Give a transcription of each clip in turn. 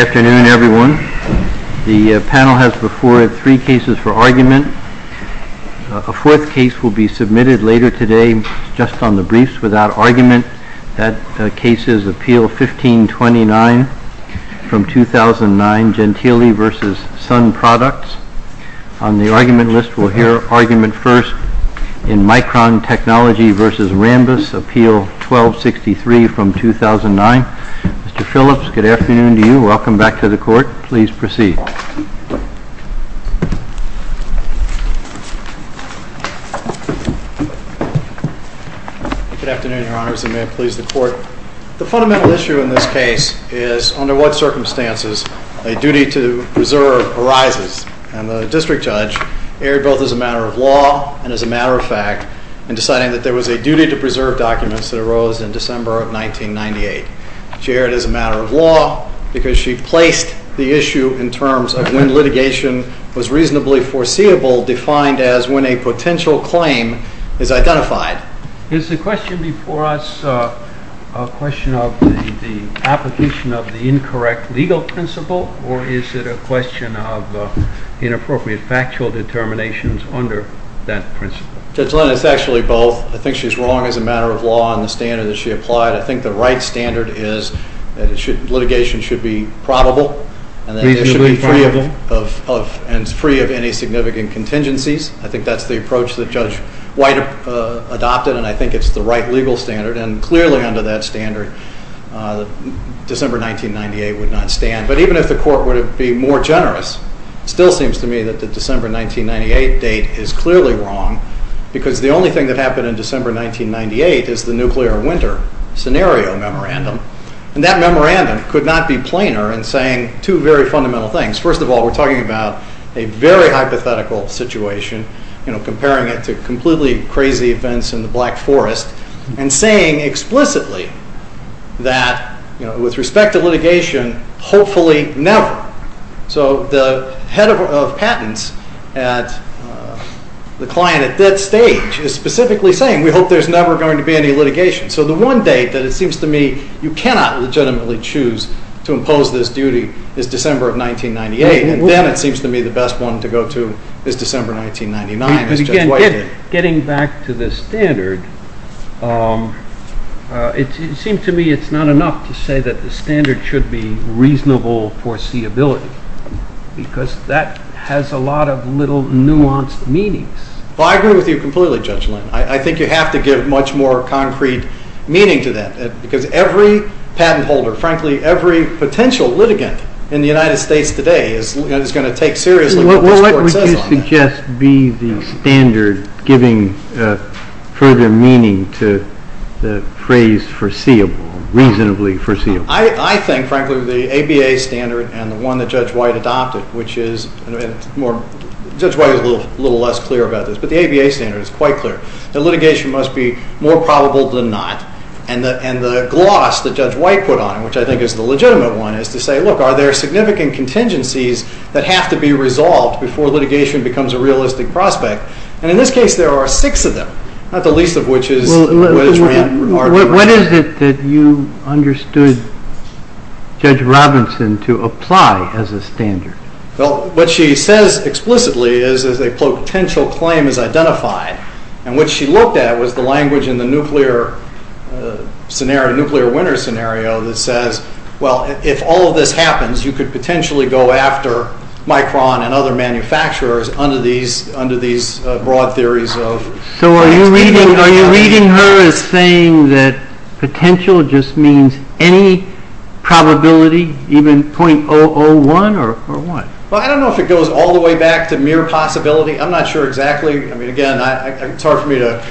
Good afternoon, everyone. The panel has before it three cases for argument. A fourth case will be submitted later today, just on the briefs, without argument. That case is Appeal 1529 from 2009, Gentile v. Sun Products. On the argument list, we'll hear argument first in Micron Technology v. Rambus, Appeal 1263 from 2009. Mr. Phillips, good afternoon to you. Welcome back to the court. Please proceed. Good afternoon, your honors, and may it please the court. The fundamental issue in this case is under what circumstances a duty to preserve arises. And the district judge erred both as a matter of law and as a matter of fact in deciding that there was a duty to preserve documents that arose in December of 1998. She erred as a matter of law because she placed the issue in terms of when litigation was reasonably foreseeable defined as when a potential claim is identified. Is the question before us a question of the application of the incorrect legal principle or is it a question of inappropriate factual determinations under that principle? Judge Linn, it's actually both. I think she's wrong as a matter of law in the standard that she applied. I think the right standard is that litigation should be probable and free of any significant contingencies. I think that's the approach that Judge White adopted, and I think it's the right legal standard. And clearly under that standard, December 1998 would not stand. But even if the court were to be more generous, it still seems to me that the December 1998 date is clearly wrong. Because the only thing that happened in December 1998 is the nuclear winter scenario memorandum. And that memorandum could not be plainer in saying two very fundamental things. First of all, we're talking about a very hypothetical situation, comparing it to completely crazy events in the Black Forest, and saying explicitly that with respect to litigation, hopefully never. So the head of patents at the client at that stage is specifically saying we hope there's never going to be any litigation. So the one date that it seems to me you cannot legitimately choose to impose this duty is December of 1998. And then it seems to me the best one to go to is December 1999. Getting back to the standard, it seems to me it's not enough to say that the standard should be reasonable foreseeability. Because that has a lot of little nuanced meanings. Well, I agree with you completely, Judge Lynn. I think you have to give much more concrete meaning to that. Because every patent holder, frankly, every potential litigant in the United States today is going to take seriously what this court says on that. It might just be the standard giving further meaning to the phrase foreseeable, reasonably foreseeable. I think, frankly, the ABA standard and the one that Judge White adopted, which is, Judge White is a little less clear about this, but the ABA standard is quite clear. The litigation must be more probable than not. And the gloss that Judge White put on it, which I think is the legitimate one, is to say, look, are there significant contingencies that have to be resolved before litigation becomes a realistic prospect? And in this case, there are six of them, not the least of which is what is meant. What is it that you understood Judge Robinson to apply as a standard? Well, what she says explicitly is a potential claim is identified. And what she looked at was the language in the nuclear scenario, nuclear winner scenario, that says, well, if all of this happens, you could potentially go after Micron and other manufacturers under these broad theories. So are you reading her as saying that potential just means any probability, even .001 or what? Well, I don't know if it goes all the way back to mere possibility. I'm not sure exactly. I mean, again, it's hard for me to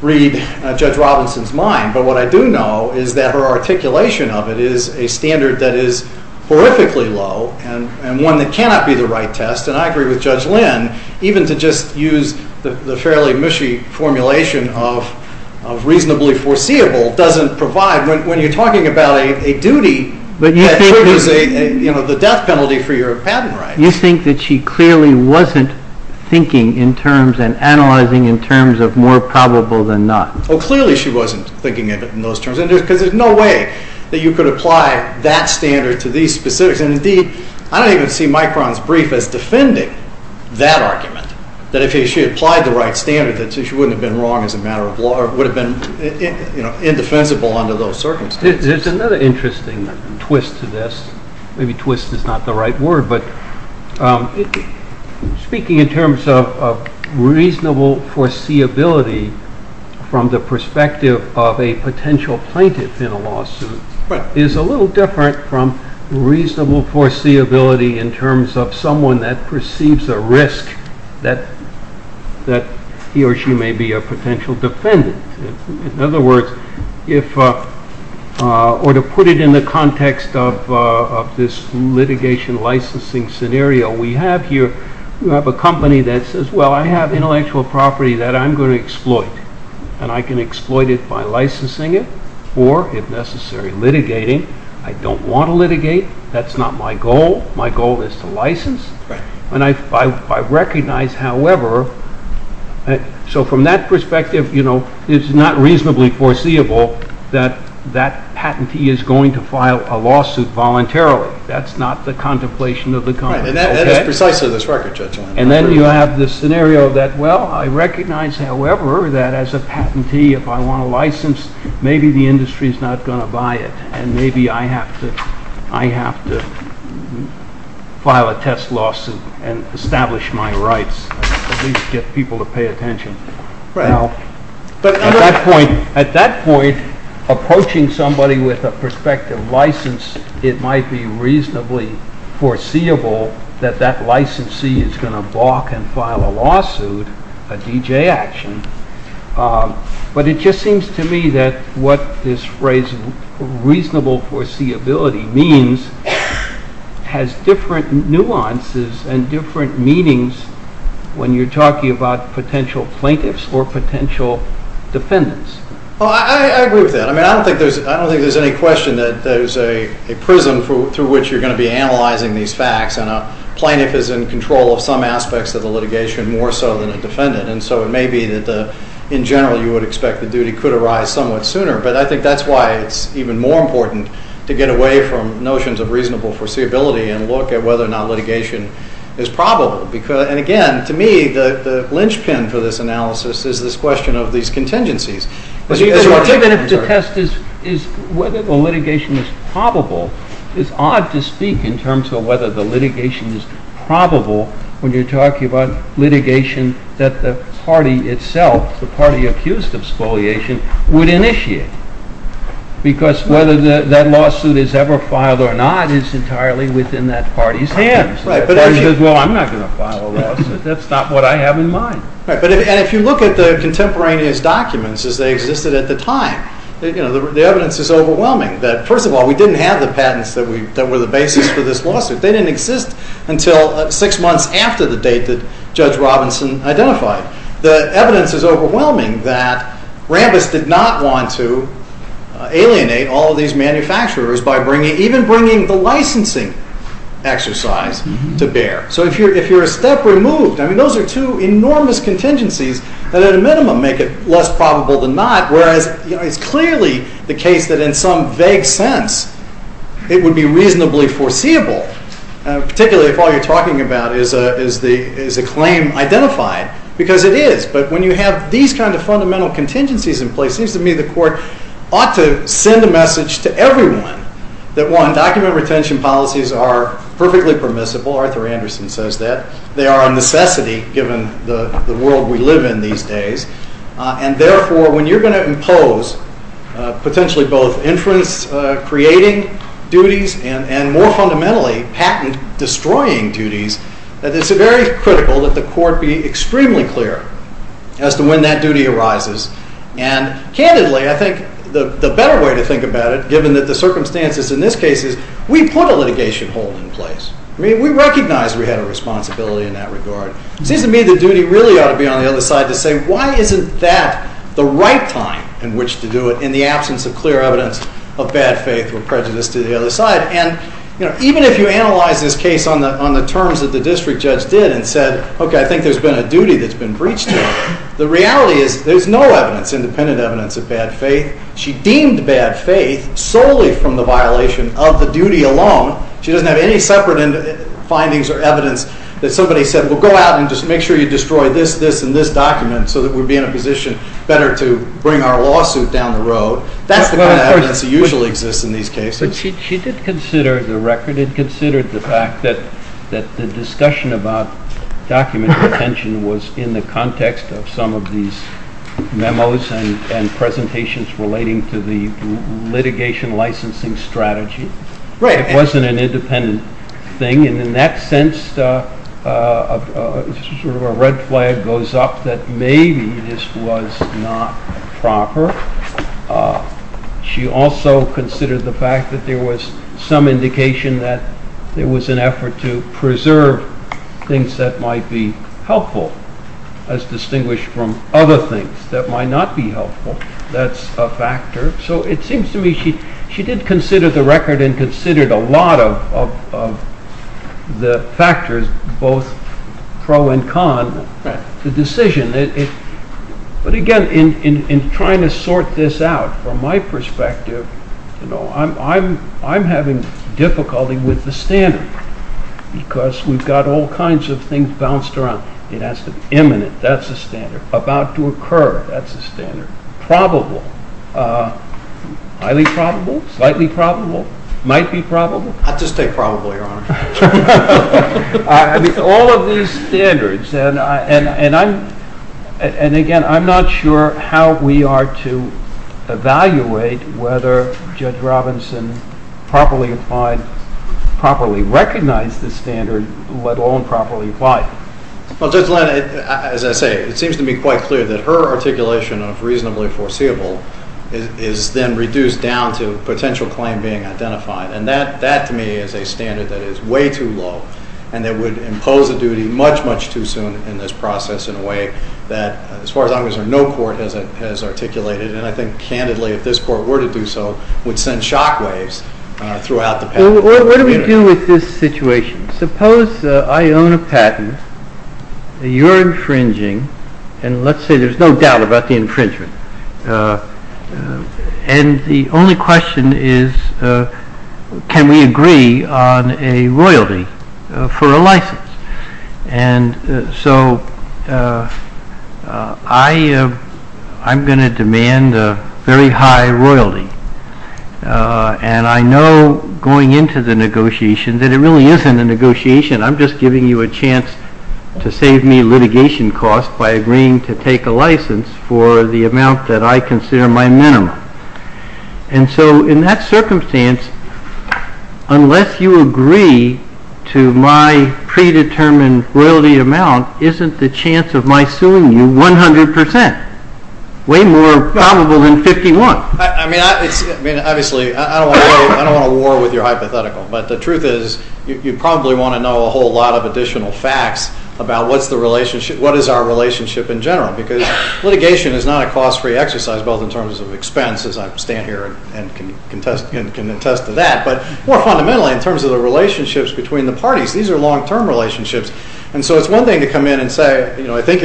read Judge Robinson's mind. But what I do know is that her articulation of it is a standard that is horrifically low and one that cannot be the right test. And I agree with Judge Lynn, even to just use the fairly mushy formulation of reasonably foreseeable doesn't provide, when you're talking about a duty that triggers the death penalty for your patent rights. You think that she clearly wasn't thinking in terms and analyzing in terms of more probable than not? Well, clearly she wasn't thinking of it in those terms, because there's no way that you could apply that standard to these specifics. And, indeed, I don't even see Micron's brief as defending that argument, that if she applied the right standard, that she wouldn't have been wrong as a matter of law or would have been indefensible under those circumstances. There's another interesting twist to this. Maybe twist is not the right word, but speaking in terms of reasonable foreseeability from the perspective of a potential plaintiff in a lawsuit is a little different from reasonable foreseeability in terms of someone that perceives a risk that he or she may be a potential defendant. In other words, or to put it in the context of this litigation licensing scenario we have here, we have a company that says, well, I have intellectual property that I'm going to exploit, and I can exploit it by licensing it or, if necessary, litigating. I don't want to litigate. That's not my goal. My goal is to license. And I recognize, however, so from that perspective, you know, it's not reasonably foreseeable that that patentee is going to file a lawsuit voluntarily. That's not the contemplation of the company. And that is precisely this record, Judge Weinberg. And then you have this scenario that, well, I recognize, however, that as a patentee, if I want to license, maybe the industry is not going to buy it, and maybe I have to file a test lawsuit and establish my rights, at least get people to pay attention. Now, at that point, approaching somebody with a prospective license, it might be reasonably foreseeable that that licensee is going to balk and file a lawsuit, a DJ action. But it just seems to me that what this phrase reasonable foreseeability means has different nuances and different meanings when you're talking about potential plaintiffs or potential defendants. Well, I agree with that. I mean, I don't think there's any question that there's a prism through which you're going to be analyzing these facts. And a plaintiff is in control of some aspects of the litigation more so than a defendant. And so it may be that, in general, you would expect the duty could arise somewhat sooner. But I think that's why it's even more important to get away from notions of reasonable foreseeability and look at whether or not litigation is probable. And, again, to me, the linchpin for this analysis is this question of these contingencies. Even if the test is whether the litigation is probable, it's odd to speak in terms of whether the litigation is probable when you're talking about litigation that the party itself, the party accused of spoliation, would initiate. Because whether that lawsuit is ever filed or not is entirely within that party's hands. The party says, well, I'm not going to file a lawsuit. That's not what I have in mind. And if you look at the contemporaneous documents as they existed at the time, the evidence is overwhelming that, first of all, we didn't have the patents that were the basis for this lawsuit. They didn't exist until six months after the date that Judge Robinson identified. The evidence is overwhelming that Rambis did not want to alienate all of these manufacturers by even bringing the licensing exercise to bear. So if you're a step removed, I mean, those are two enormous contingencies that, at a minimum, make it less probable than not. Whereas it's clearly the case that in some vague sense it would be reasonably foreseeable, particularly if all you're talking about is a claim identified, because it is. But when you have these kinds of fundamental contingencies in place, it seems to me the Court ought to send a message to everyone that, one, document retention policies are perfectly permissible. Arthur Anderson says that. They are a necessity given the world we live in these days. And, therefore, when you're going to impose potentially both inference-creating duties and, more fundamentally, patent-destroying duties, it's very critical that the Court be extremely clear as to when that duty arises. And, candidly, I think the better way to think about it, given the circumstances in this case, is we put a litigation hold in place. I mean, we recognize we had a responsibility in that regard. It seems to me the duty really ought to be on the other side to say, why isn't that the right time in which to do it in the absence of clear evidence of bad faith or prejudice to the other side? And even if you analyze this case on the terms that the district judge did and said, OK, I think there's been a duty that's been breached here, the reality is there's no evidence, independent evidence, of bad faith. She deemed bad faith solely from the violation of the duty alone. She doesn't have any separate findings or evidence that somebody said, well, go out and just make sure you destroy this, this, and this document so that we'd be in a position better to bring our lawsuit down the road. That's the kind of evidence that usually exists in these cases. She did consider the record. It considered the fact that the discussion about document retention was in the context of some of these memos and presentations relating to the litigation licensing strategy. It wasn't an independent thing. And in that sense, a red flag goes up that maybe this was not proper. She also considered the fact that there was some indication that there was an effort to preserve things that might be helpful as distinguished from other things that might not be helpful. That's a factor. So it seems to me she did consider the record and considered a lot of the factors, both pro and con, the decision. But again, in trying to sort this out, from my perspective, I'm having difficulty with the standard because we've got all kinds of things bounced around. It has to be imminent. That's a standard. About to occur. That's a standard. Probable. Highly probable. Slightly probable. Might be probable. I'd just take probable, Your Honor. All of these standards. And again, I'm not sure how we are to evaluate whether Judge Robinson properly applied, properly recognized this standard, let alone properly applied it. Well, Judge Lynn, as I say, it seems to me quite clear that her articulation of reasonably foreseeable is then reduced down to potential claim being identified. And that, to me, is a standard that is way too low and that would impose a duty much, much too soon in this process in a way that, as far as I'm concerned, no court has articulated. And I think, candidly, if this court were to do so, would send shockwaves throughout the patent community. What do we do with this situation? Suppose I own a patent. You're infringing. And let's say there's no doubt about the infringement. And the only question is, can we agree on a royalty for a license? And so I'm going to demand a very high royalty. And I know going into the negotiation that it really isn't a negotiation. I'm just giving you a chance to save me litigation costs by agreeing to take a license for the amount that I consider my minimum. And so in that circumstance, unless you agree to my predetermined royalty amount, isn't the chance of my suing you 100 percent? Way more probable than 51. I mean, obviously, I don't want to war with your hypothetical. But the truth is you probably want to know a whole lot of additional facts about what is our relationship in general. Because litigation is not a cost-free exercise, both in terms of expense, as I stand here and can attest to that, but more fundamentally in terms of the relationships between the parties. These are long-term relationships. And so it's one thing to come in and say, you know, I think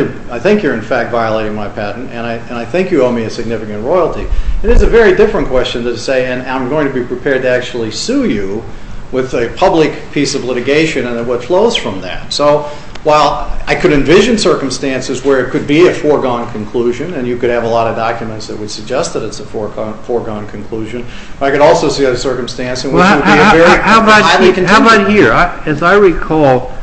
you're in fact violating my patent, and I think you owe me a significant royalty. It is a very different question to say, and I'm going to be prepared to actually sue you with a public piece of litigation and what flows from that. So while I could envision circumstances where it could be a foregone conclusion, and you could have a lot of documents that would suggest that it's a foregone conclusion, I could also see a circumstance in which it would be a very highly contingent. How about here? As I recall,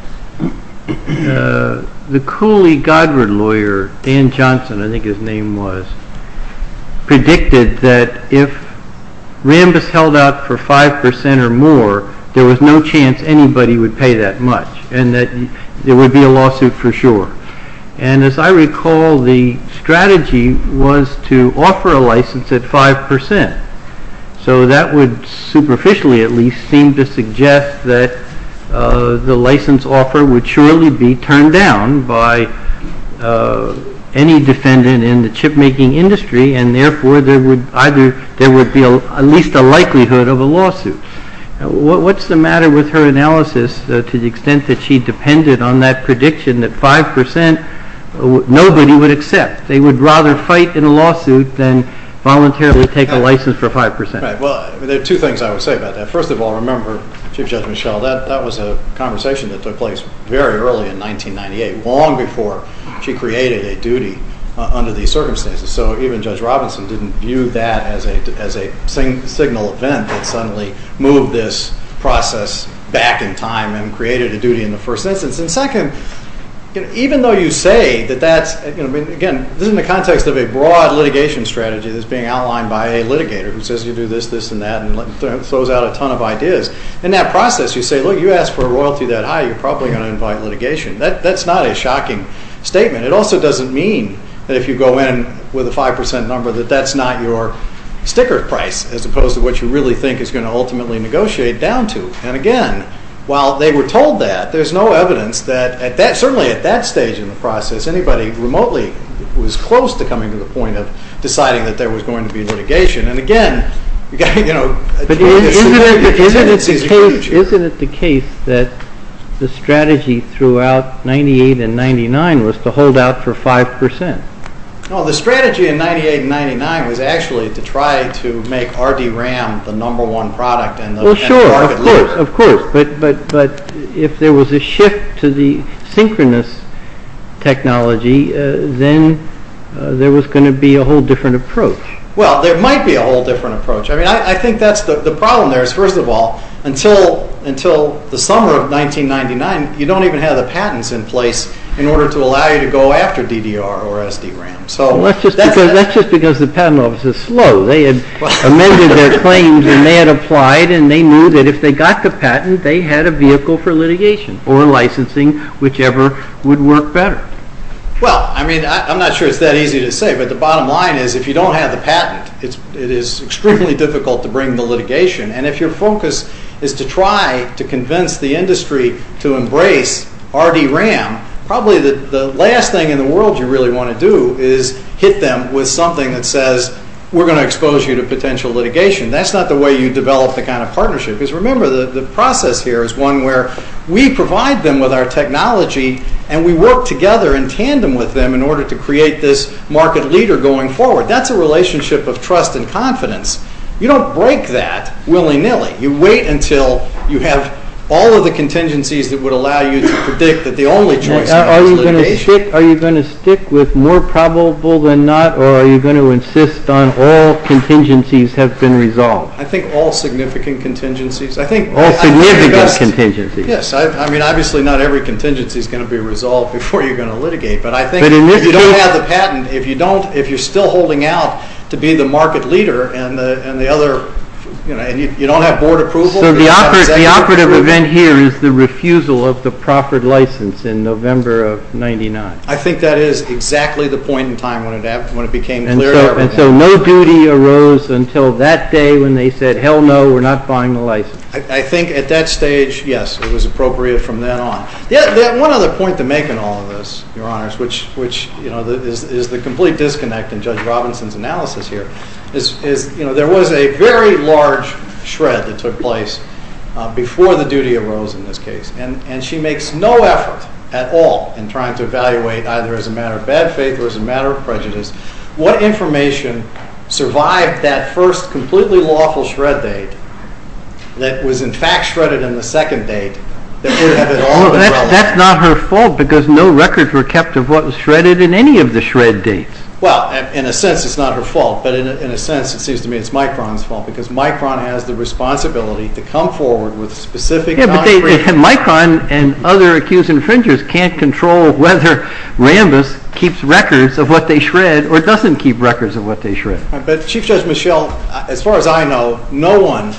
the Cooley-Godward lawyer, Dan Johnson, I think his name was, predicted that if Rambis held out for 5% or more, there was no chance anybody would pay that much and that there would be a lawsuit for sure. And as I recall, the strategy was to offer a license at 5%. So that would superficially at least seem to suggest that the license offer would surely be turned down by any defendant in the chip-making industry, and therefore there would be at least a likelihood of a lawsuit. What's the matter with her analysis to the extent that she depended on that prediction that 5% nobody would accept? They would rather fight in a lawsuit than voluntarily take a license for 5%. Right. Well, there are two things I would say about that. First of all, remember, Chief Judge Michel, that was a conversation that took place very early in 1998, long before she created a duty under these circumstances. So even Judge Robinson didn't view that as a signal event that suddenly moved this process back in time and created a duty in the first instance. And second, even though you say that that's, again, this is in the context of a broad litigation strategy that's being outlined by a litigator who says you do this, this, and that and throws out a ton of ideas, in that process you say, look, you asked for a royalty that high, you're probably going to invite litigation. That's not a shocking statement. It also doesn't mean that if you go in with a 5% number that that's not your sticker price as opposed to what you really think is going to ultimately negotiate down to. And again, while they were told that, there's no evidence that certainly at that stage in the process anybody remotely was close to coming to the point of deciding that there was going to be litigation. And again, you've got to, you know, Isn't it the case that the strategy throughout 1998 and 1999 was to hold out for 5%? No, the strategy in 1998 and 1999 was actually to try to make RDRAM the number one product in the market. Of course, but if there was a shift to the synchronous technology, then there was going to be a whole different approach. Well, there might be a whole different approach. I mean, I think that's the problem there is, first of all, until the summer of 1999, you don't even have the patents in place in order to allow you to go after DDR or SDRAM. That's just because the patent office is slow. They had amended their claims and they had applied and they knew that if they got the patent, they had a vehicle for litigation or licensing, whichever would work better. Well, I mean, I'm not sure it's that easy to say, but the bottom line is if you don't have the patent, it is extremely difficult to bring the litigation. And if your focus is to try to convince the industry to embrace RDRAM, probably the last thing in the world you really want to do is hit them with something that says, we're going to expose you to potential litigation. That's not the way you develop the kind of partnership. Because remember, the process here is one where we provide them with our technology and we work together in tandem with them in order to create this market leader going forward. That's a relationship of trust and confidence. You don't break that willy-nilly. You wait until you have all of the contingencies that would allow you to predict that the only choice is litigation. Are you going to stick with more probable than not, or are you going to insist on all contingencies have been resolved? I think all significant contingencies. All significant contingencies. Yes. I mean, obviously not every contingency is going to be resolved before you're going to litigate. But I think if you don't have the patent, if you don't, if you're still holding out to be the market leader and you don't have board approval. So the operative event here is the refusal of the proffered license in November of 1999. I think that is exactly the point in time when it became clear to everyone. And so no duty arose until that day when they said, hell no, we're not buying the license. I think at that stage, yes, it was appropriate from then on. One other point to make in all of this, Your Honors, which is the complete disconnect in Judge Robinson's analysis here, is there was a very large shred that took place before the duty arose in this case. And she makes no effort at all in trying to evaluate, either as a matter of bad faith or as a matter of prejudice, what information survived that first completely lawful shred date that was in fact shredded in the second date that would have at all been relevant. That's not her fault because no records were kept of what was shredded in any of the shred dates. Well, in a sense, it's not her fault. But in a sense, it seems to me it's Micron's fault because Micron has the responsibility to come forward with specific documents. Yeah, but Micron and other accused infringers can't control whether Rambis keeps records of what they shred or doesn't keep records of what they shred. But Chief Judge Michel, as far as I know, no one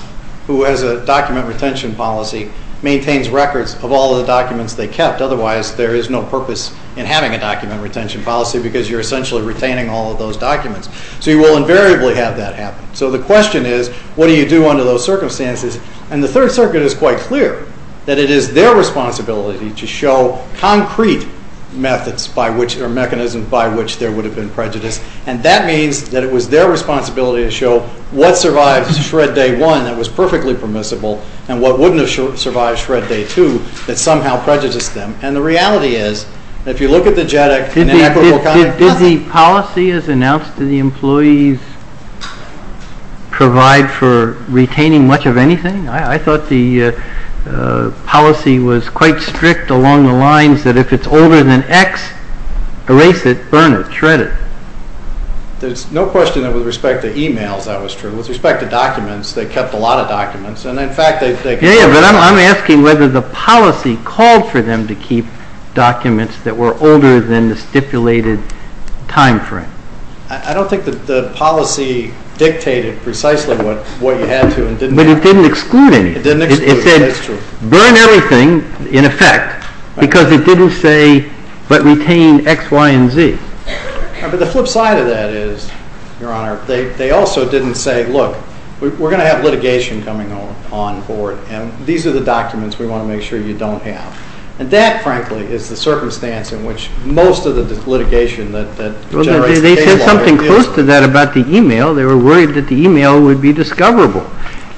who has a document retention policy maintains records of all the documents they kept. Otherwise, there is no purpose in having a document retention policy because you're essentially retaining all of those documents. So you will invariably have that happen. So the question is, what do you do under those circumstances? And the Third Circuit is quite clear that it is their responsibility to show concrete methods or mechanisms by which there would have been prejudice. And that means that it was their responsibility to show what survived shred day one that was perfectly permissible and what wouldn't have survived shred day two that somehow prejudiced them. And the reality is, if you look at the JEDEC... Did the policy as announced to the employees provide for retaining much of anything? I thought the policy was quite strict along the lines that if it's older than X, erase it, burn it, shred it. There's no question that with respect to emails that was true. Yeah, but I'm asking whether the policy called for them to keep documents that were older than the stipulated time frame. I don't think that the policy dictated precisely what you had to. But it didn't exclude anything. It said burn everything, in effect, because it didn't say but retain X, Y, and Z. But the flip side of that is, Your Honor, they also didn't say, Look, we're going to have litigation coming on board, and these are the documents we want to make sure you don't have. And that, frankly, is the circumstance in which most of the litigation that... They said something close to that about the email. They were worried that the email would be discoverable.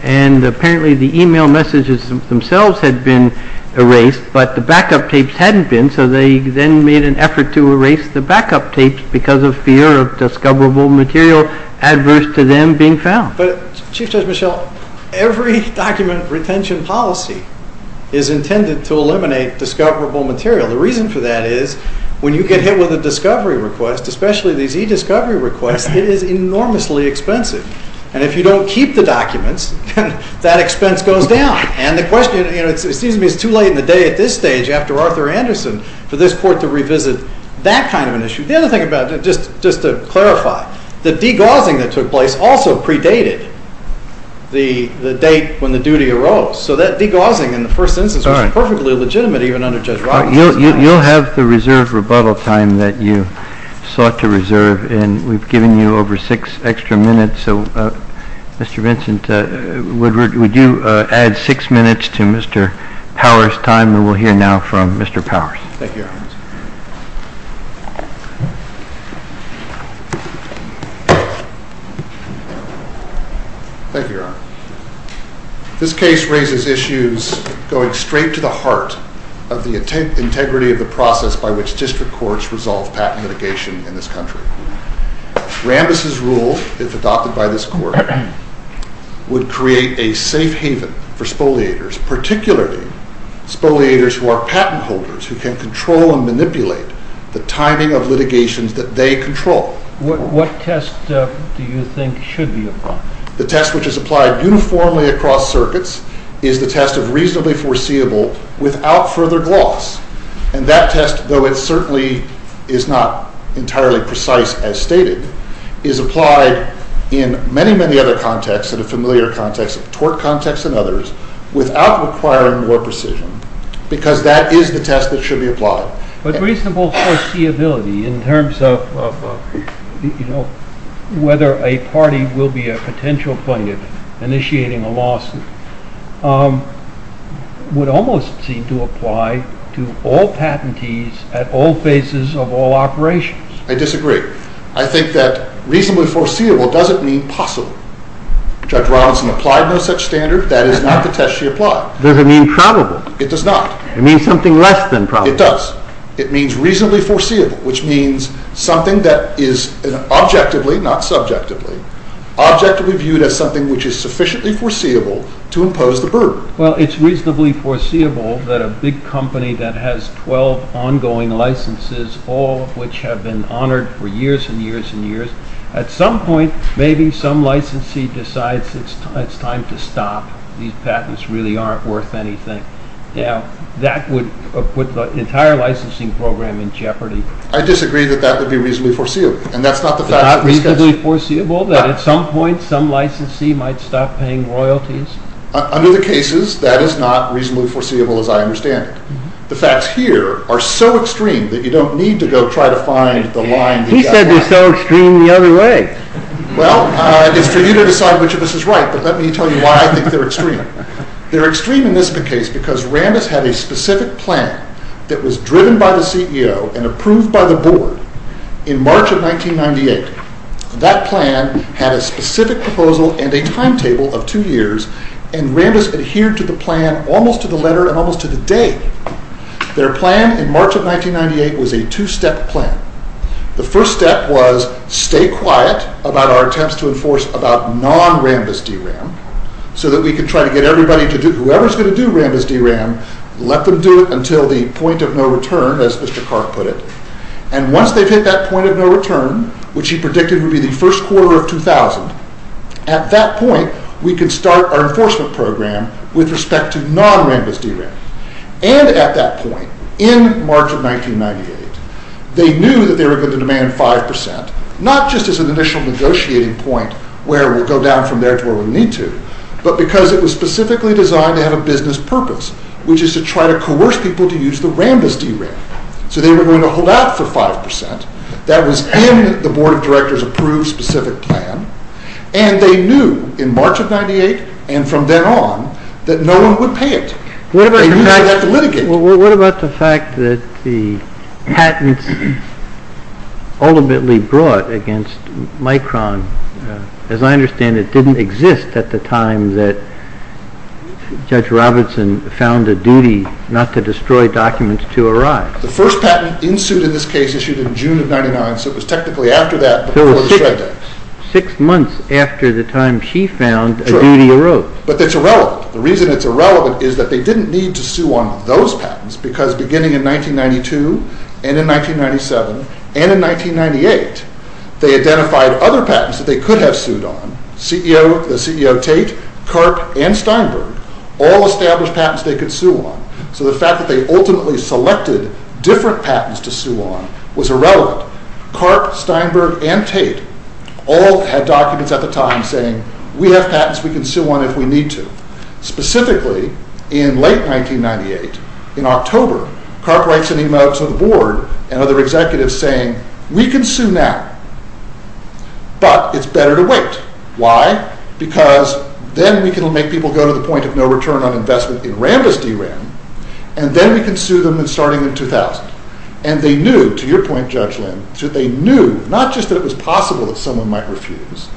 And apparently the email messages themselves had been erased, but the backup tapes hadn't been, so they then made an effort to erase the backup tapes because of fear of discoverable material adverse to them being found. But, Chief Judge Michel, every document retention policy is intended to eliminate discoverable material. The reason for that is when you get hit with a discovery request, especially these e-discovery requests, it is enormously expensive. And if you don't keep the documents, that expense goes down. And the question, you know, it seems to me it's too late in the day at this stage, after Arthur Anderson, for this Court to revisit that kind of an issue. The other thing about it, just to clarify, the degaussing that took place also predated the date when the duty arose. So that degaussing in the first instance was perfectly legitimate even under Judge Roberts. You'll have the reserved rebuttal time that you sought to reserve, and we've given you over six extra minutes. So, Mr. Vincent, would you add six minutes to Mr. Powers' time, and we'll hear now from Mr. Powers. Thank you, Your Honor. Thank you, Your Honor. This case raises issues going straight to the heart of the integrity of the process by which district courts resolve patent litigation in this country. Rambis' rule, if adopted by this Court, would create a safe haven for spoliators, particularly spoliators who are patent holders, who can control and manipulate the timing of litigations that they control. What test do you think should be applied? The test which is applied uniformly across circuits is the test of reasonably foreseeable without further gloss. And that test, though it certainly is not entirely precise as stated, is applied in many, many other contexts, in the familiar context of tort context and others, without requiring more precision, because that is the test that should be applied. But reasonable foreseeability in terms of whether a party will be a potential plaintiff initiating a lawsuit would almost seem to apply to all patentees at all phases of all operations. I disagree. I think that reasonably foreseeable doesn't mean possible. Judge Robinson applied no such standard. That is not the test she applied. Does it mean probable? It does not. It means something less than probable. It does. It means reasonably foreseeable, which means something that is objectively, not subjectively, objectively viewed as something which is sufficiently foreseeable to impose the burden. Well, it's reasonably foreseeable that a big company that has 12 ongoing licenses, all of which have been honored for years and years and years, at some point maybe some licensee decides it's time to stop. These patents really aren't worth anything. Now, that would put the entire licensing program in jeopardy. I disagree that that would be reasonably foreseeable. It's not reasonably foreseeable that at some point some licensee might stop paying royalties? Under the cases, that is not reasonably foreseeable as I understand it. The facts here are so extreme that you don't need to go try to find the line. He said they're so extreme the other way. Well, it's for you to decide which of us is right, but let me tell you why I think they're extreme. They're extreme in this case because Rambis had a specific plan that was driven by the CEO and approved by the board in March of 1998. That plan had a specific proposal and a timetable of two years, and Rambis adhered to the plan almost to the letter and almost to the day. Their plan in March of 1998 was a two-step plan. The first step was stay quiet about our attempts to enforce about non-Rambis DRAM so that we could try to get everybody to do, whoever's going to do Rambis DRAM, let them do it until the point of no return, as Mr. Clark put it. Once they've hit that point of no return, which he predicted would be the first quarter of 2000, at that point we could start our enforcement program with respect to non-Rambis DRAM. And at that point, in March of 1998, they knew that they were going to demand 5%, not just as an initial negotiating point where we'll go down from there to where we need to, but because it was specifically designed to have a business purpose, which is to try to coerce people to use the Rambis DRAM. So they were going to hold out for 5%. That was in the board of directors' approved specific plan, and they knew in March of 1998 and from then on that no one would pay it. They knew they'd have to litigate. What about the fact that the patents ultimately brought against Micron, as I understand it, didn't exist at the time that Judge Robertson found a duty not to destroy documents to arrive. The first patent in suit in this case issued in June of 1999, so it was technically after that before the shred day. So it was six months after the time she found a duty arose. But it's irrelevant. The reason it's irrelevant is that they didn't need to sue on those patents because beginning in 1992 and in 1997 and in 1998, they identified other patents that they could have sued on, the CEO Tate, Karp, and Steinberg, all established patents they could sue on. So the fact that they ultimately selected different patents to sue on was irrelevant. Karp, Steinberg, and Tate all had documents at the time saying, we have patents, we can sue on if we need to. Specifically, in late 1998, in October, Karp writes an email to the board and other executives saying, we can sue now, but it's better to wait. Why? Because then we can make people go to the point of no return on investment in Rambis D.R.A.M., and then we can sue them starting in 2000. And they knew, to your point, Judge Lynn, they knew not just that it was possible that someone might refuse,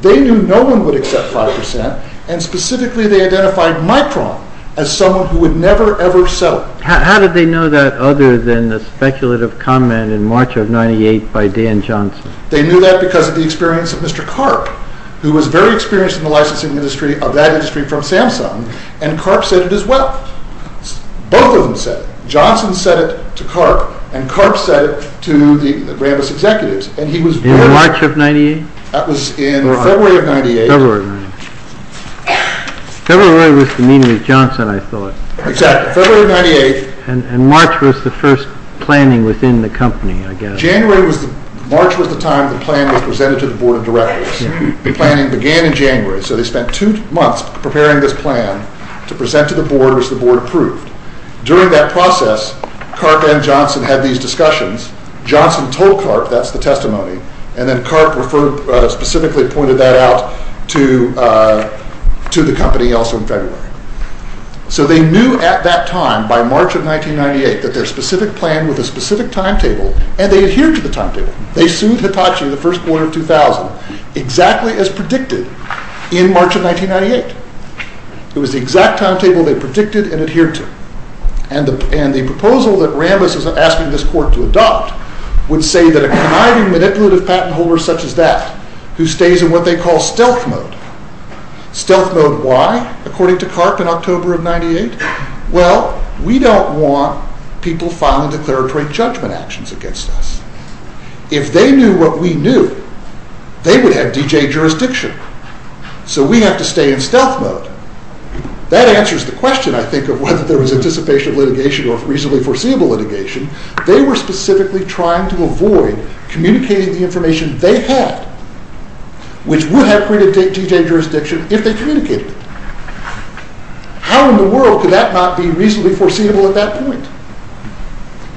they knew no one would accept 5%, and specifically they identified Micron as someone who would never ever sell it. How did they know that other than the speculative comment in March of 1998 by Dan Johnson? They knew that because of the experience of Mr. Karp, who was very experienced in the licensing industry of that industry from Samsung, and Karp said it as well. Both of them said it. Johnson said it to Karp, and Karp said it to the Rambis executives, In March of 1998? That was in February of 1998. February was the meeting with Johnson, I thought. Exactly, February of 1998. And March was the first planning within the company, I guess. March was the time the plan was presented to the board of directors. The planning began in January, so they spent two months preparing this plan to present to the board, which the board approved. During that process, Karp and Johnson had these discussions. Johnson told Karp, that's the testimony, and then Karp specifically pointed that out to the company also in February. So they knew at that time, by March of 1998, that their specific plan with a specific timetable, and they adhered to the timetable. They sued Hitachi in the first quarter of 2000, exactly as predicted in March of 1998. It was the exact timetable they predicted and adhered to. And the proposal that Rambis is asking this court to adopt, would say that a conniving, manipulative patent holder such as that, who stays in what they call stealth mode. Stealth mode why, according to Karp in October of 1998? Well, we don't want people filing declaratory judgment actions against us. If they knew what we knew, they would have DJ jurisdiction. So we have to stay in stealth mode. That answers the question, I think, of whether there was anticipation of litigation or reasonably foreseeable litigation. They were specifically trying to avoid communicating the information they had, which would have created DJ jurisdiction if they communicated it. How in the world could that not be reasonably foreseeable at that point?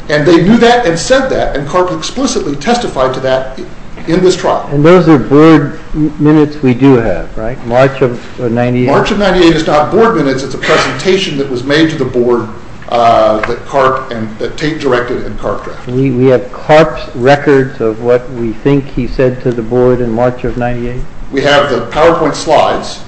And they knew that and said that, and Karp explicitly testified to that in this trial. And those are good minutes we do have, right? March of 1998? March of 1998 is not board minutes. It's a presentation that was made to the board that Tate directed and Karp drafted. We have Karp's records of what we think he said to the board in March of 1998? We have the PowerPoint slides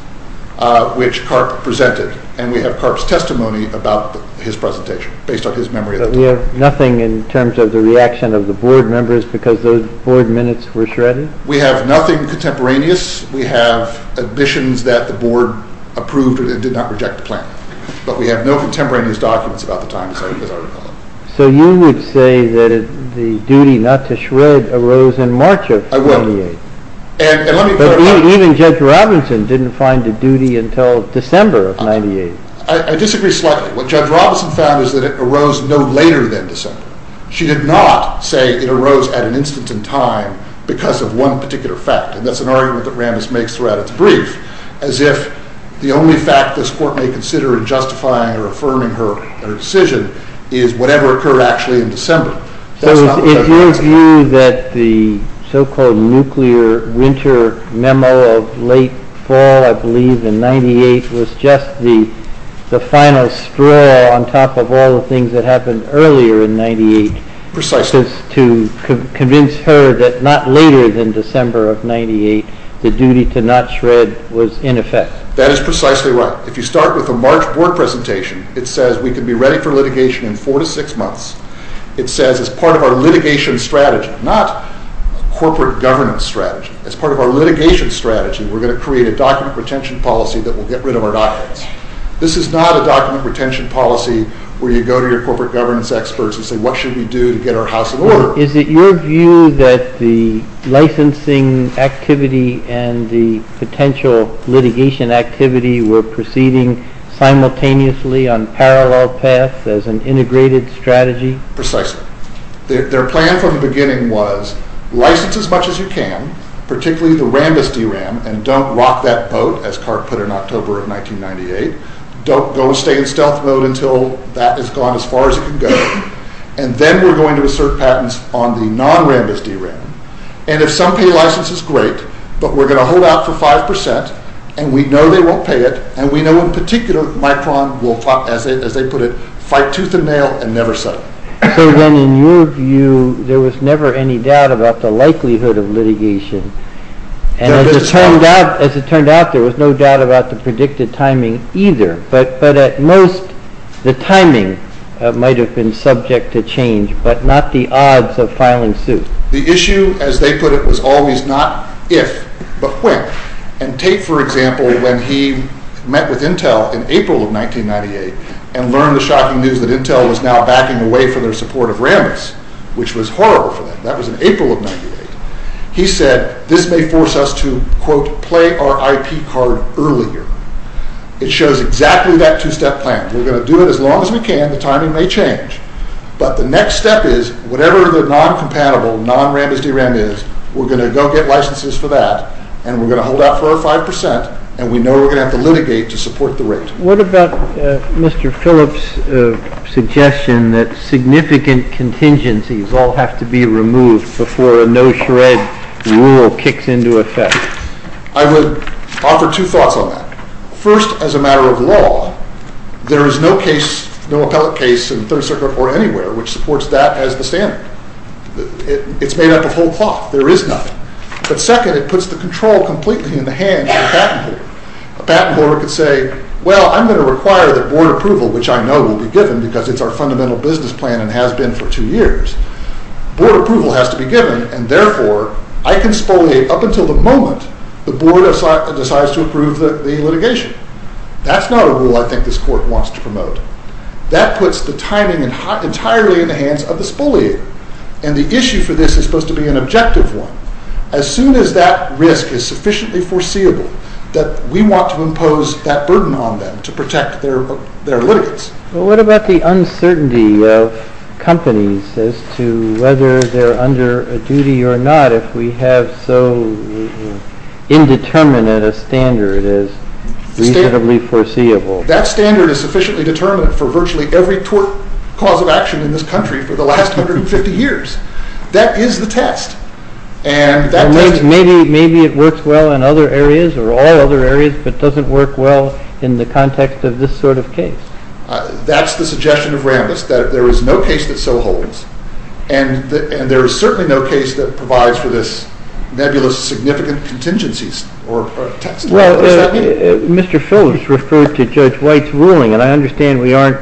which Karp presented, and we have Karp's testimony about his presentation based on his memory of the time. But we have nothing in terms of the reaction of the board members because those board minutes were shredded? We have nothing contemporaneous. In this case, we have admissions that the board approved and did not reject the plan. But we have no contemporaneous documents about the time of the article. So you would say that the duty not to shred arose in March of 1998? I will. And let me clarify. But even Judge Robinson didn't find a duty until December of 1998? I disagree slightly. What Judge Robinson found is that it arose no later than December. She did not say it arose at an instant in time because of one particular fact, and that's an argument that Rambis makes throughout its brief, as if the only fact this court may consider in justifying or affirming her decision is whatever occurred actually in December. So is your view that the so-called nuclear winter memo of late fall, I believe, in 1998, was just the final straw on top of all the things that happened earlier in 1998? Precisely. So your purpose is to convince her that not later than December of 1998, the duty to not shred was in effect? That is precisely right. If you start with the March board presentation, it says we can be ready for litigation in four to six months. It says as part of our litigation strategy, not corporate governance strategy, as part of our litigation strategy, we're going to create a document retention policy that will get rid of our documents. This is not a document retention policy where you go to your corporate governance experts and say what should we do to get our house in order. Is it your view that the licensing activity and the potential litigation activity were proceeding simultaneously on parallel paths as an integrated strategy? Precisely. Their plan from the beginning was license as much as you can, particularly the Rambis DRAM, and don't rock that boat, as Clark put it in October of 1998. Don't go and stay in stealth mode until that has gone as far as it can go, and then we're going to assert patents on the non-Rambis DRAM, and if some pay license is great, but we're going to hold out for 5%, and we know they won't pay it, and we know in particular Micron will, as they put it, fight tooth and nail and never settle. So then in your view, there was never any doubt about the likelihood of litigation, and as it turned out there was no doubt about the predicted timing either, but at most the timing might have been subject to change, but not the odds of filing suit. The issue, as they put it, was always not if, but when. And Tate, for example, when he met with Intel in April of 1998 and learned the shocking news that Intel was now backing away from their support of Rambis, which was horrible for them, that was in April of 1998, he said this may force us to, quote, play our IP card earlier. It shows exactly that two-step plan. We're going to do it as long as we can. The timing may change, but the next step is whatever the non-compatible, non-Rambis DRAM is, we're going to go get licenses for that, and we're going to hold out for our 5%, and we know we're going to have to litigate to support the rate. What about Mr. Phillips' suggestion that significant contingencies all have to be removed before a no-shred rule kicks into effect? I would offer two thoughts on that. First, as a matter of law, there is no case, no appellate case in the Third Circuit or anywhere which supports that as the standard. It's made up of whole cloth. There is nothing. But second, it puts the control completely in the hands of the patent holder. A patent holder could say, well, I'm going to require that board approval, which I know will be given because it's our fundamental business plan and has been for two years. Board approval has to be given, and therefore I can spoliate up until the moment the board decides to approve the litigation. That's not a rule I think this court wants to promote. That puts the timing entirely in the hands of the spoliator, and the issue for this is supposed to be an objective one. As soon as that risk is sufficiently foreseeable, we want to impose that burden on them to protect their litigants. Well, what about the uncertainty of companies as to whether they're under a duty or not if we have so indeterminate a standard as reasonably foreseeable? That standard is sufficiently determinate for virtually every tort cause of action in this country for the last 150 years. That is the test. Maybe it works well in other areas or all other areas, but doesn't work well in the context of this sort of case. That's the suggestion of Rambis, that there is no case that so holds, and there is certainly no case that provides for this nebulous, significant contingencies or test. Well, Mr. Phillips referred to Judge White's ruling, and I understand we aren't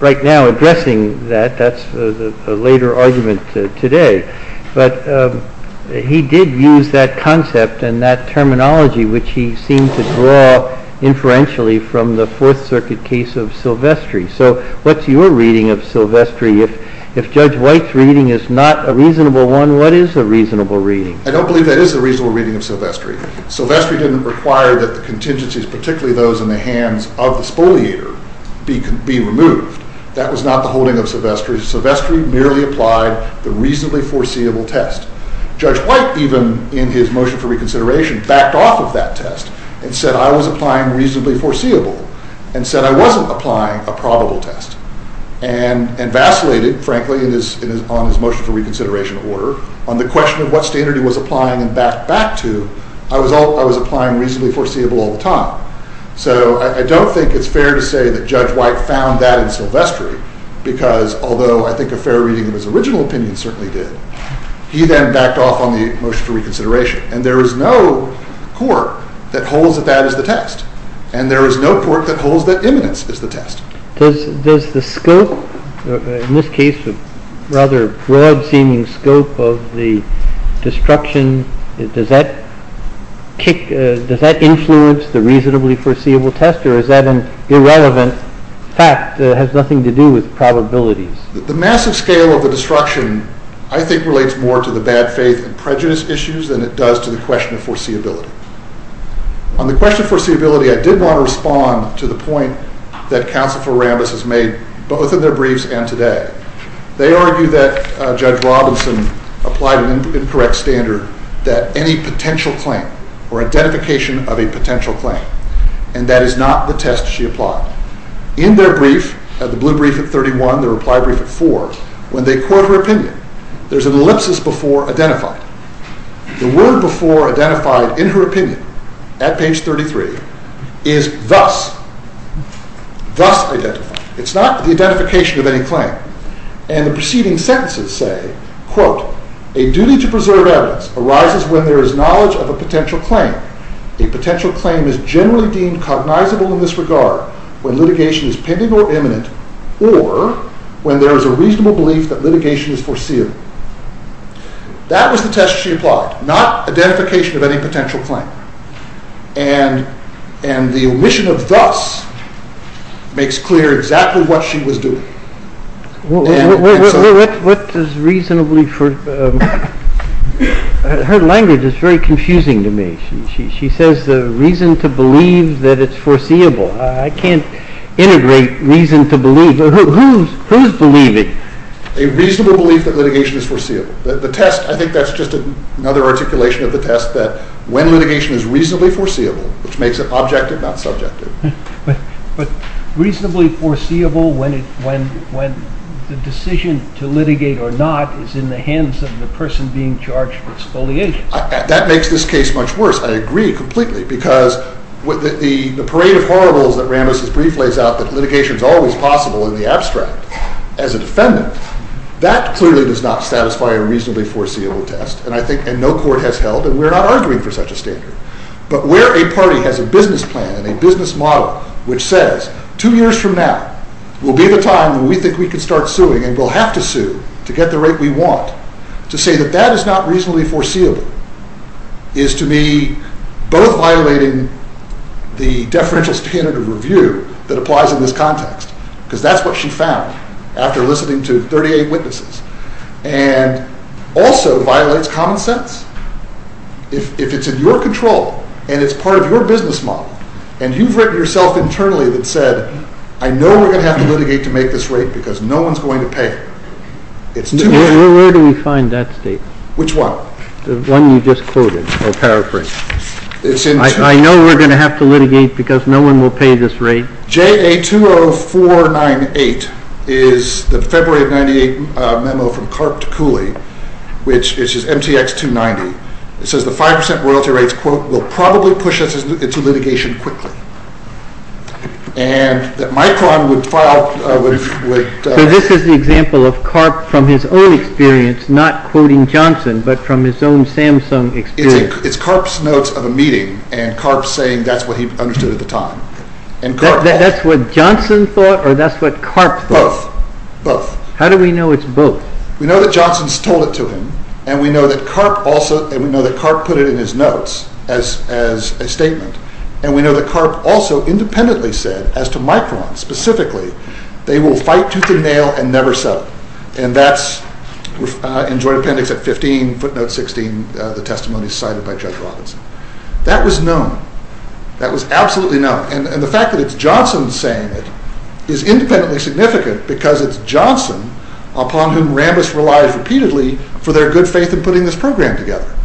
right now addressing that. That's a later argument today. But he did use that concept and that terminology, which he seemed to draw inferentially from the Fourth Circuit case of Silvestri. So what's your reading of Silvestri? If Judge White's reading is not a reasonable one, what is a reasonable reading? I don't believe that is a reasonable reading of Silvestri. Silvestri didn't require that the contingencies, particularly those in the hands of the spoliator, be removed. That was not the holding of Silvestri. Silvestri merely applied the reasonably foreseeable test. Judge White, even in his motion for reconsideration, backed off of that test and said I was applying reasonably foreseeable and said I wasn't applying a probable test and vacillated, frankly, on his motion for reconsideration order on the question of what standard he was applying and backed back to. I was applying reasonably foreseeable all the time. So I don't think it's fair to say that Judge White found that in Silvestri because, although I think a fair reading of his original opinion certainly did, he then backed off on the motion for reconsideration. And there is no court that holds that that is the test. And there is no court that holds that imminence is the test. Does the scope, in this case a rather broad-seeming scope of the destruction, does that influence the reasonably foreseeable test or is that an irrelevant fact that has nothing to do with probabilities? The massive scale of the destruction, I think, relates more to the bad faith and prejudice issues than it does to the question of foreseeability. On the question of foreseeability, I did want to respond to the point that Counsel for Rambis has made both in their briefs and today. They argue that Judge Robinson applied an incorrect standard that any potential claim or identification of a potential claim, and that is not the test she applied. In their brief, the blue brief at 31, the reply brief at 4, when they quote her opinion, there's an ellipsis before identified. The word before identified in her opinion at page 33 is thus, thus identified. It's not the identification of any claim. And the preceding sentences say, quote, A duty to preserve evidence arises when there is knowledge of a potential claim. A potential claim is generally deemed cognizable in this regard when litigation is pending or imminent or when there is a reasonable belief that litigation is foreseeable. That was the test she applied, not identification of any potential claim. And the omission of thus makes clear exactly what she was doing. What does reasonably foreseeable mean? Her language is very confusing to me. She says the reason to believe that it's foreseeable. I can't integrate reason to believe. Who's believing? A reasonable belief that litigation is foreseeable. The test, I think that's just another articulation of the test that when litigation is reasonably foreseeable, which makes it objective, not subjective. But reasonably foreseeable when the decision to litigate or not is in the hands of the person being charged with exfoliation. That makes this case much worse. I agree completely because the parade of horribles that Ramos' brief lays out, that litigation is always possible in the abstract as a defendant, that clearly does not satisfy a reasonably foreseeable test. And no court has held, and we're not arguing for such a standard. But where a party has a business plan and a business model which says two years from now will be the time when we think we can start suing and we'll have to sue to get the rate we want, to say that that is not reasonably foreseeable is to me both violating the deferential standard of review that applies in this context, because that's what she found after listening to 38 witnesses, and also violates common sense. If it's in your control and it's part of your business model and you've written yourself internally that said, I know we're going to have to litigate to make this rate because no one's going to pay it, it's too late. Where do we find that statement? Which one? The one you just quoted, or paraphrased. I know we're going to have to litigate because no one will pay this rate. JA20498 is the February of 1998 memo from Karp to Cooley, which is MTX290. It says the 5% royalty rates quote, will probably push us into litigation quickly. And that Micron would file... So this is the example of Karp from his own experience not quoting Johnson, but from his own Samsung experience. It's Karp's notes of a meeting, and Karp saying that's what he understood at the time. That's what Johnson thought, or that's what Karp thought? Both. How do we know it's both? We know that Johnson's told it to him, and we know that Karp put it in his notes as a statement. And we know that Karp also independently said, as to Micron specifically, they will fight tooth and nail and never settle. And that's in joint appendix at 15, footnote 16, the testimony cited by Judge Robinson. That was known. That was absolutely known. And the fact that it's Johnson saying it is independently significant because it's Johnson upon whom Rambis relies repeatedly for their good faith in putting this program together.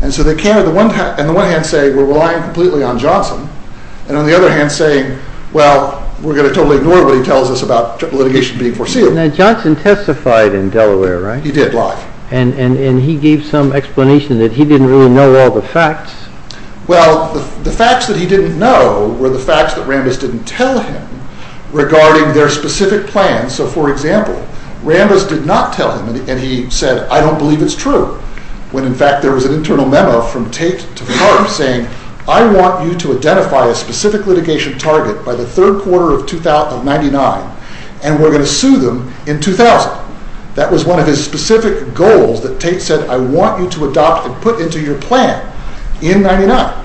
And so they can on the one hand say, we're relying completely on Johnson, and on the other hand saying, well, we're going to totally ignore what he tells us about litigation being foreseeable. Now Johnson testified in Delaware, right? He did, live. And he gave some explanation that he didn't really know all the facts. Well, the facts that he didn't know were the facts that Rambis didn't tell him regarding their specific plans. So for example, Rambis did not tell him, and he said, I don't believe it's true, when in fact there was an internal memo from Tate to Karp saying, I want you to identify a specific litigation target by the third quarter of 1999, and we're going to sue them in 2000. That was one of his specific goals that Tate said, I want you to adopt and put into your plan in 1999.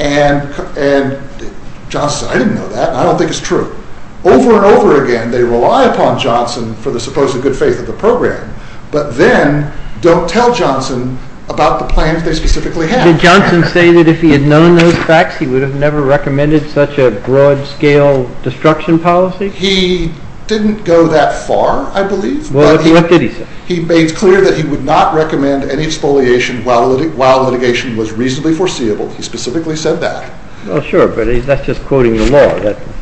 And Johnson said, I didn't know that, and I don't think it's true. Over and over again they rely upon Johnson for the supposed good faith of the program, but then don't tell Johnson about the plans they specifically have. Did Johnson say that if he had known those facts he would have never recommended such a broad scale destruction policy? He didn't go that far, I believe. What did he say? He made clear that he would not recommend any expoliation while litigation was reasonably foreseeable. He specifically said that. Well, sure, but that's just quoting the law.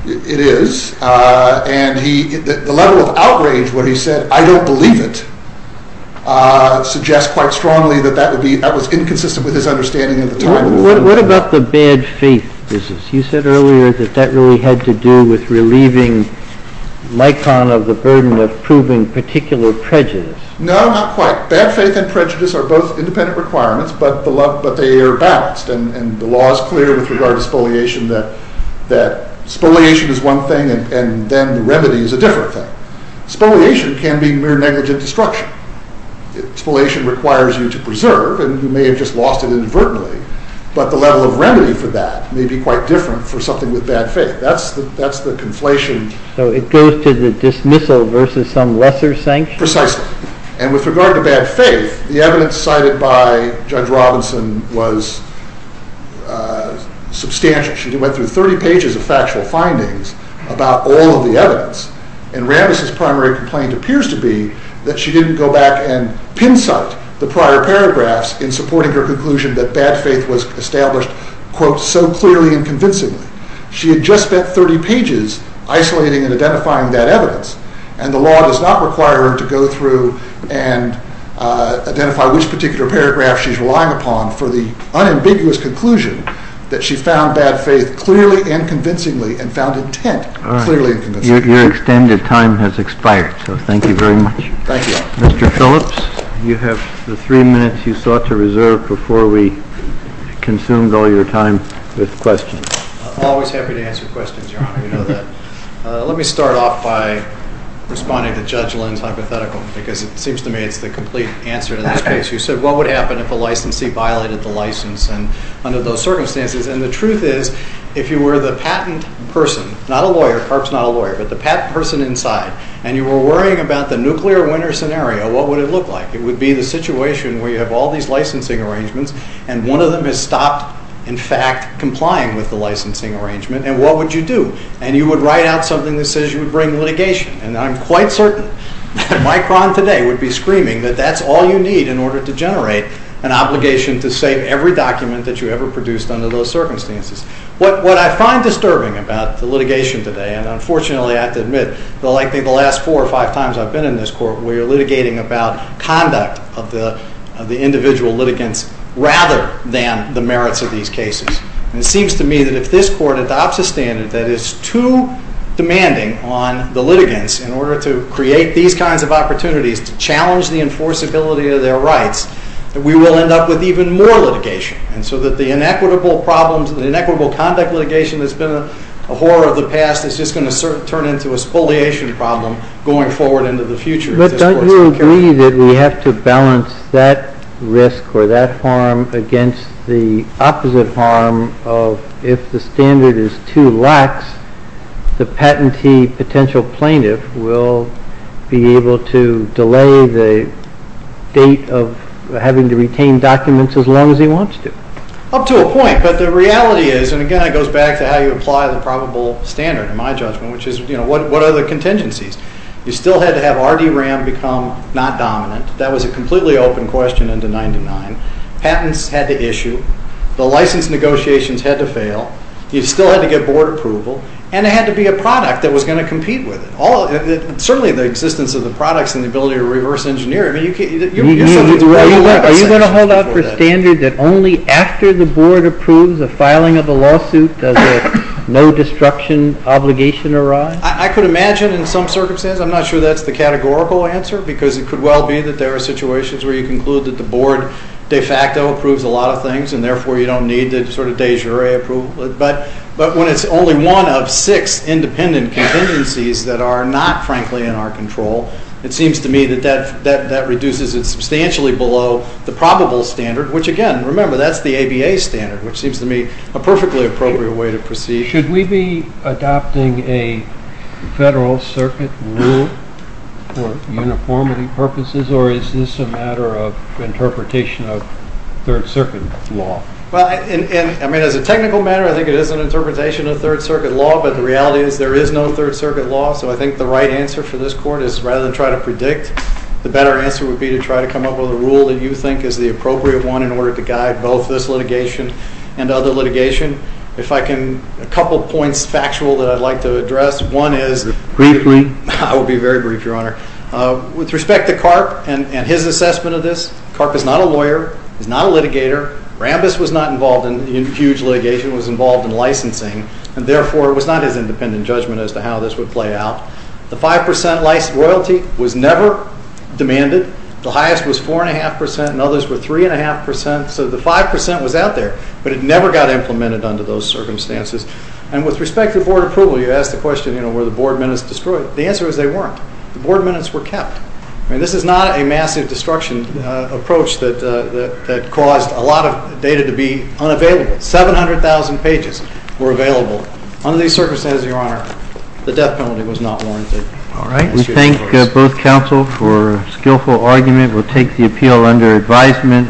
It is, and the level of outrage where he said, I don't believe it, suggests quite strongly that that was inconsistent with his understanding at the time. What about the bad faith business? You said earlier that that really had to do with relieving Likon of the burden of proving particular prejudice. No, not quite. Bad faith and prejudice are both independent requirements, but they are balanced, and the law is clear with regard to expoliation that expoliation is one thing and then the remedy is a different thing. Expoliation can be mere negligent destruction. Expoliation requires you to preserve, and you may have just lost it inadvertently, but the level of remedy for that may be quite different for something with bad faith. That's the conflation. So it goes to the dismissal versus some lesser sanction? Precisely. And with regard to bad faith, the evidence cited by Judge Robinson was substantial. She went through 30 pages of factual findings about all of the evidence, and Rambis' primary complaint appears to be that she didn't go back and pincite the prior paragraphs in supporting her conclusion that bad faith was established quote, so clearly and convincingly. She had just spent 30 pages isolating and identifying that evidence, and the law does not require her to go through and identify which particular paragraph she's relying upon for the unambiguous conclusion that she found bad faith clearly and convincingly and found intent clearly and convincingly. Your extended time has expired, so thank you very much. Thank you. Mr. Phillips, you have the three minutes you sought to reserve before we consumed all your time with questions. I'm always happy to answer questions, Your Honor. You know that. Let me start off by responding to Judge Lynn's hypothetical, because it seems to me it's the complete answer to this case. You said what would happen if a licensee violated the license under those circumstances, and the truth is if you were the patent person, not a lawyer, perhaps not a lawyer, but the patent person inside, and you were worrying about the nuclear winner scenario, what would it look like? It would be the situation where you have all these licensing arrangements, and one of them has stopped, in fact, complying with the licensing arrangement, and what would you do? And you would write out something that says you would bring litigation, and I'm quite certain that Micron today would be screaming that that's all you need in order to generate an obligation to save every document that you ever produced under those circumstances. What I find disturbing about the litigation today, and unfortunately I have to admit likely the last four or five times I've been in this court where you're litigating about conduct of the individual litigants rather than the merits of these cases, and it seems to me that if this court adopts a standard that is too demanding on the litigants in order to create these kinds of opportunities to challenge the enforceability of their rights, that we will end up with even more litigation, and so that the inequitable problems, the inequitable conduct litigation that's been a horror of the past is just going to turn into a spoliation problem going forward into the future. But don't you agree that we have to balance that risk or that harm against the opposite harm of if the standard is too lax, the patentee potential plaintiff will be able to delay the date of having to retain documents as long as he wants to? Up to a point, but the reality is, and again it goes back to how you apply the probable standard in my judgment, which is what are the contingencies? You still had to have R.D. Ram become not dominant. That was a completely open question Patents had to issue. The license negotiations had to fail. You still had to get board approval. And it had to be a product that was going to compete with it. Certainly the existence of the products and the ability to reverse engineer it. Are you going to hold out for standard that only after the board approves the filing of the lawsuit does a no-destruction obligation arise? I could imagine in some circumstances. I'm not sure that's the categorical answer because it could well be that there are situations where you conclude that the board de facto approves a lot of things and therefore you don't need the sort of de jure approval. But when it's only one of six independent contingencies that are not frankly in our control, it seems to me that that reduces it substantially below the probable standard, which again, remember, that's the ABA standard, which seems to me a perfectly appropriate way to proceed. Should we be adopting a federal circuit rule for uniformity purposes or is this a matter of interpretation of third circuit law? As a technical matter, I think it is an interpretation of third circuit law but the reality is there is no third circuit law so I think the right answer for this court is rather than try to predict, the better answer would be to try to come up with a rule that you think is the appropriate one in order to guide both this litigation and other litigation. If I can, a couple points factual that I'd like to address. One is... Briefly. I will be very brief, Your Honor. With respect to Karp and his assessment of this, Karp is not a lawyer. He's not a litigator. Rambis was not involved in huge litigation. He was involved in licensing and therefore it was not his independent judgment as to how this would play out. The 5% royalty was never demanded. The highest was 4.5% and others were 3.5% so the 5% was out there but it never got implemented under those circumstances and with respect to board approval, you asked the question, were the board minutes destroyed? The answer is they weren't. The board minutes were kept. I mean, this is not a massive destruction approach that caused a lot of data to be unavailable. 700,000 pages were available. Under these circumstances, Your Honor, the death penalty was not warranted. All right. We thank both counsel for a skillful argument. We'll take the appeal under advisement.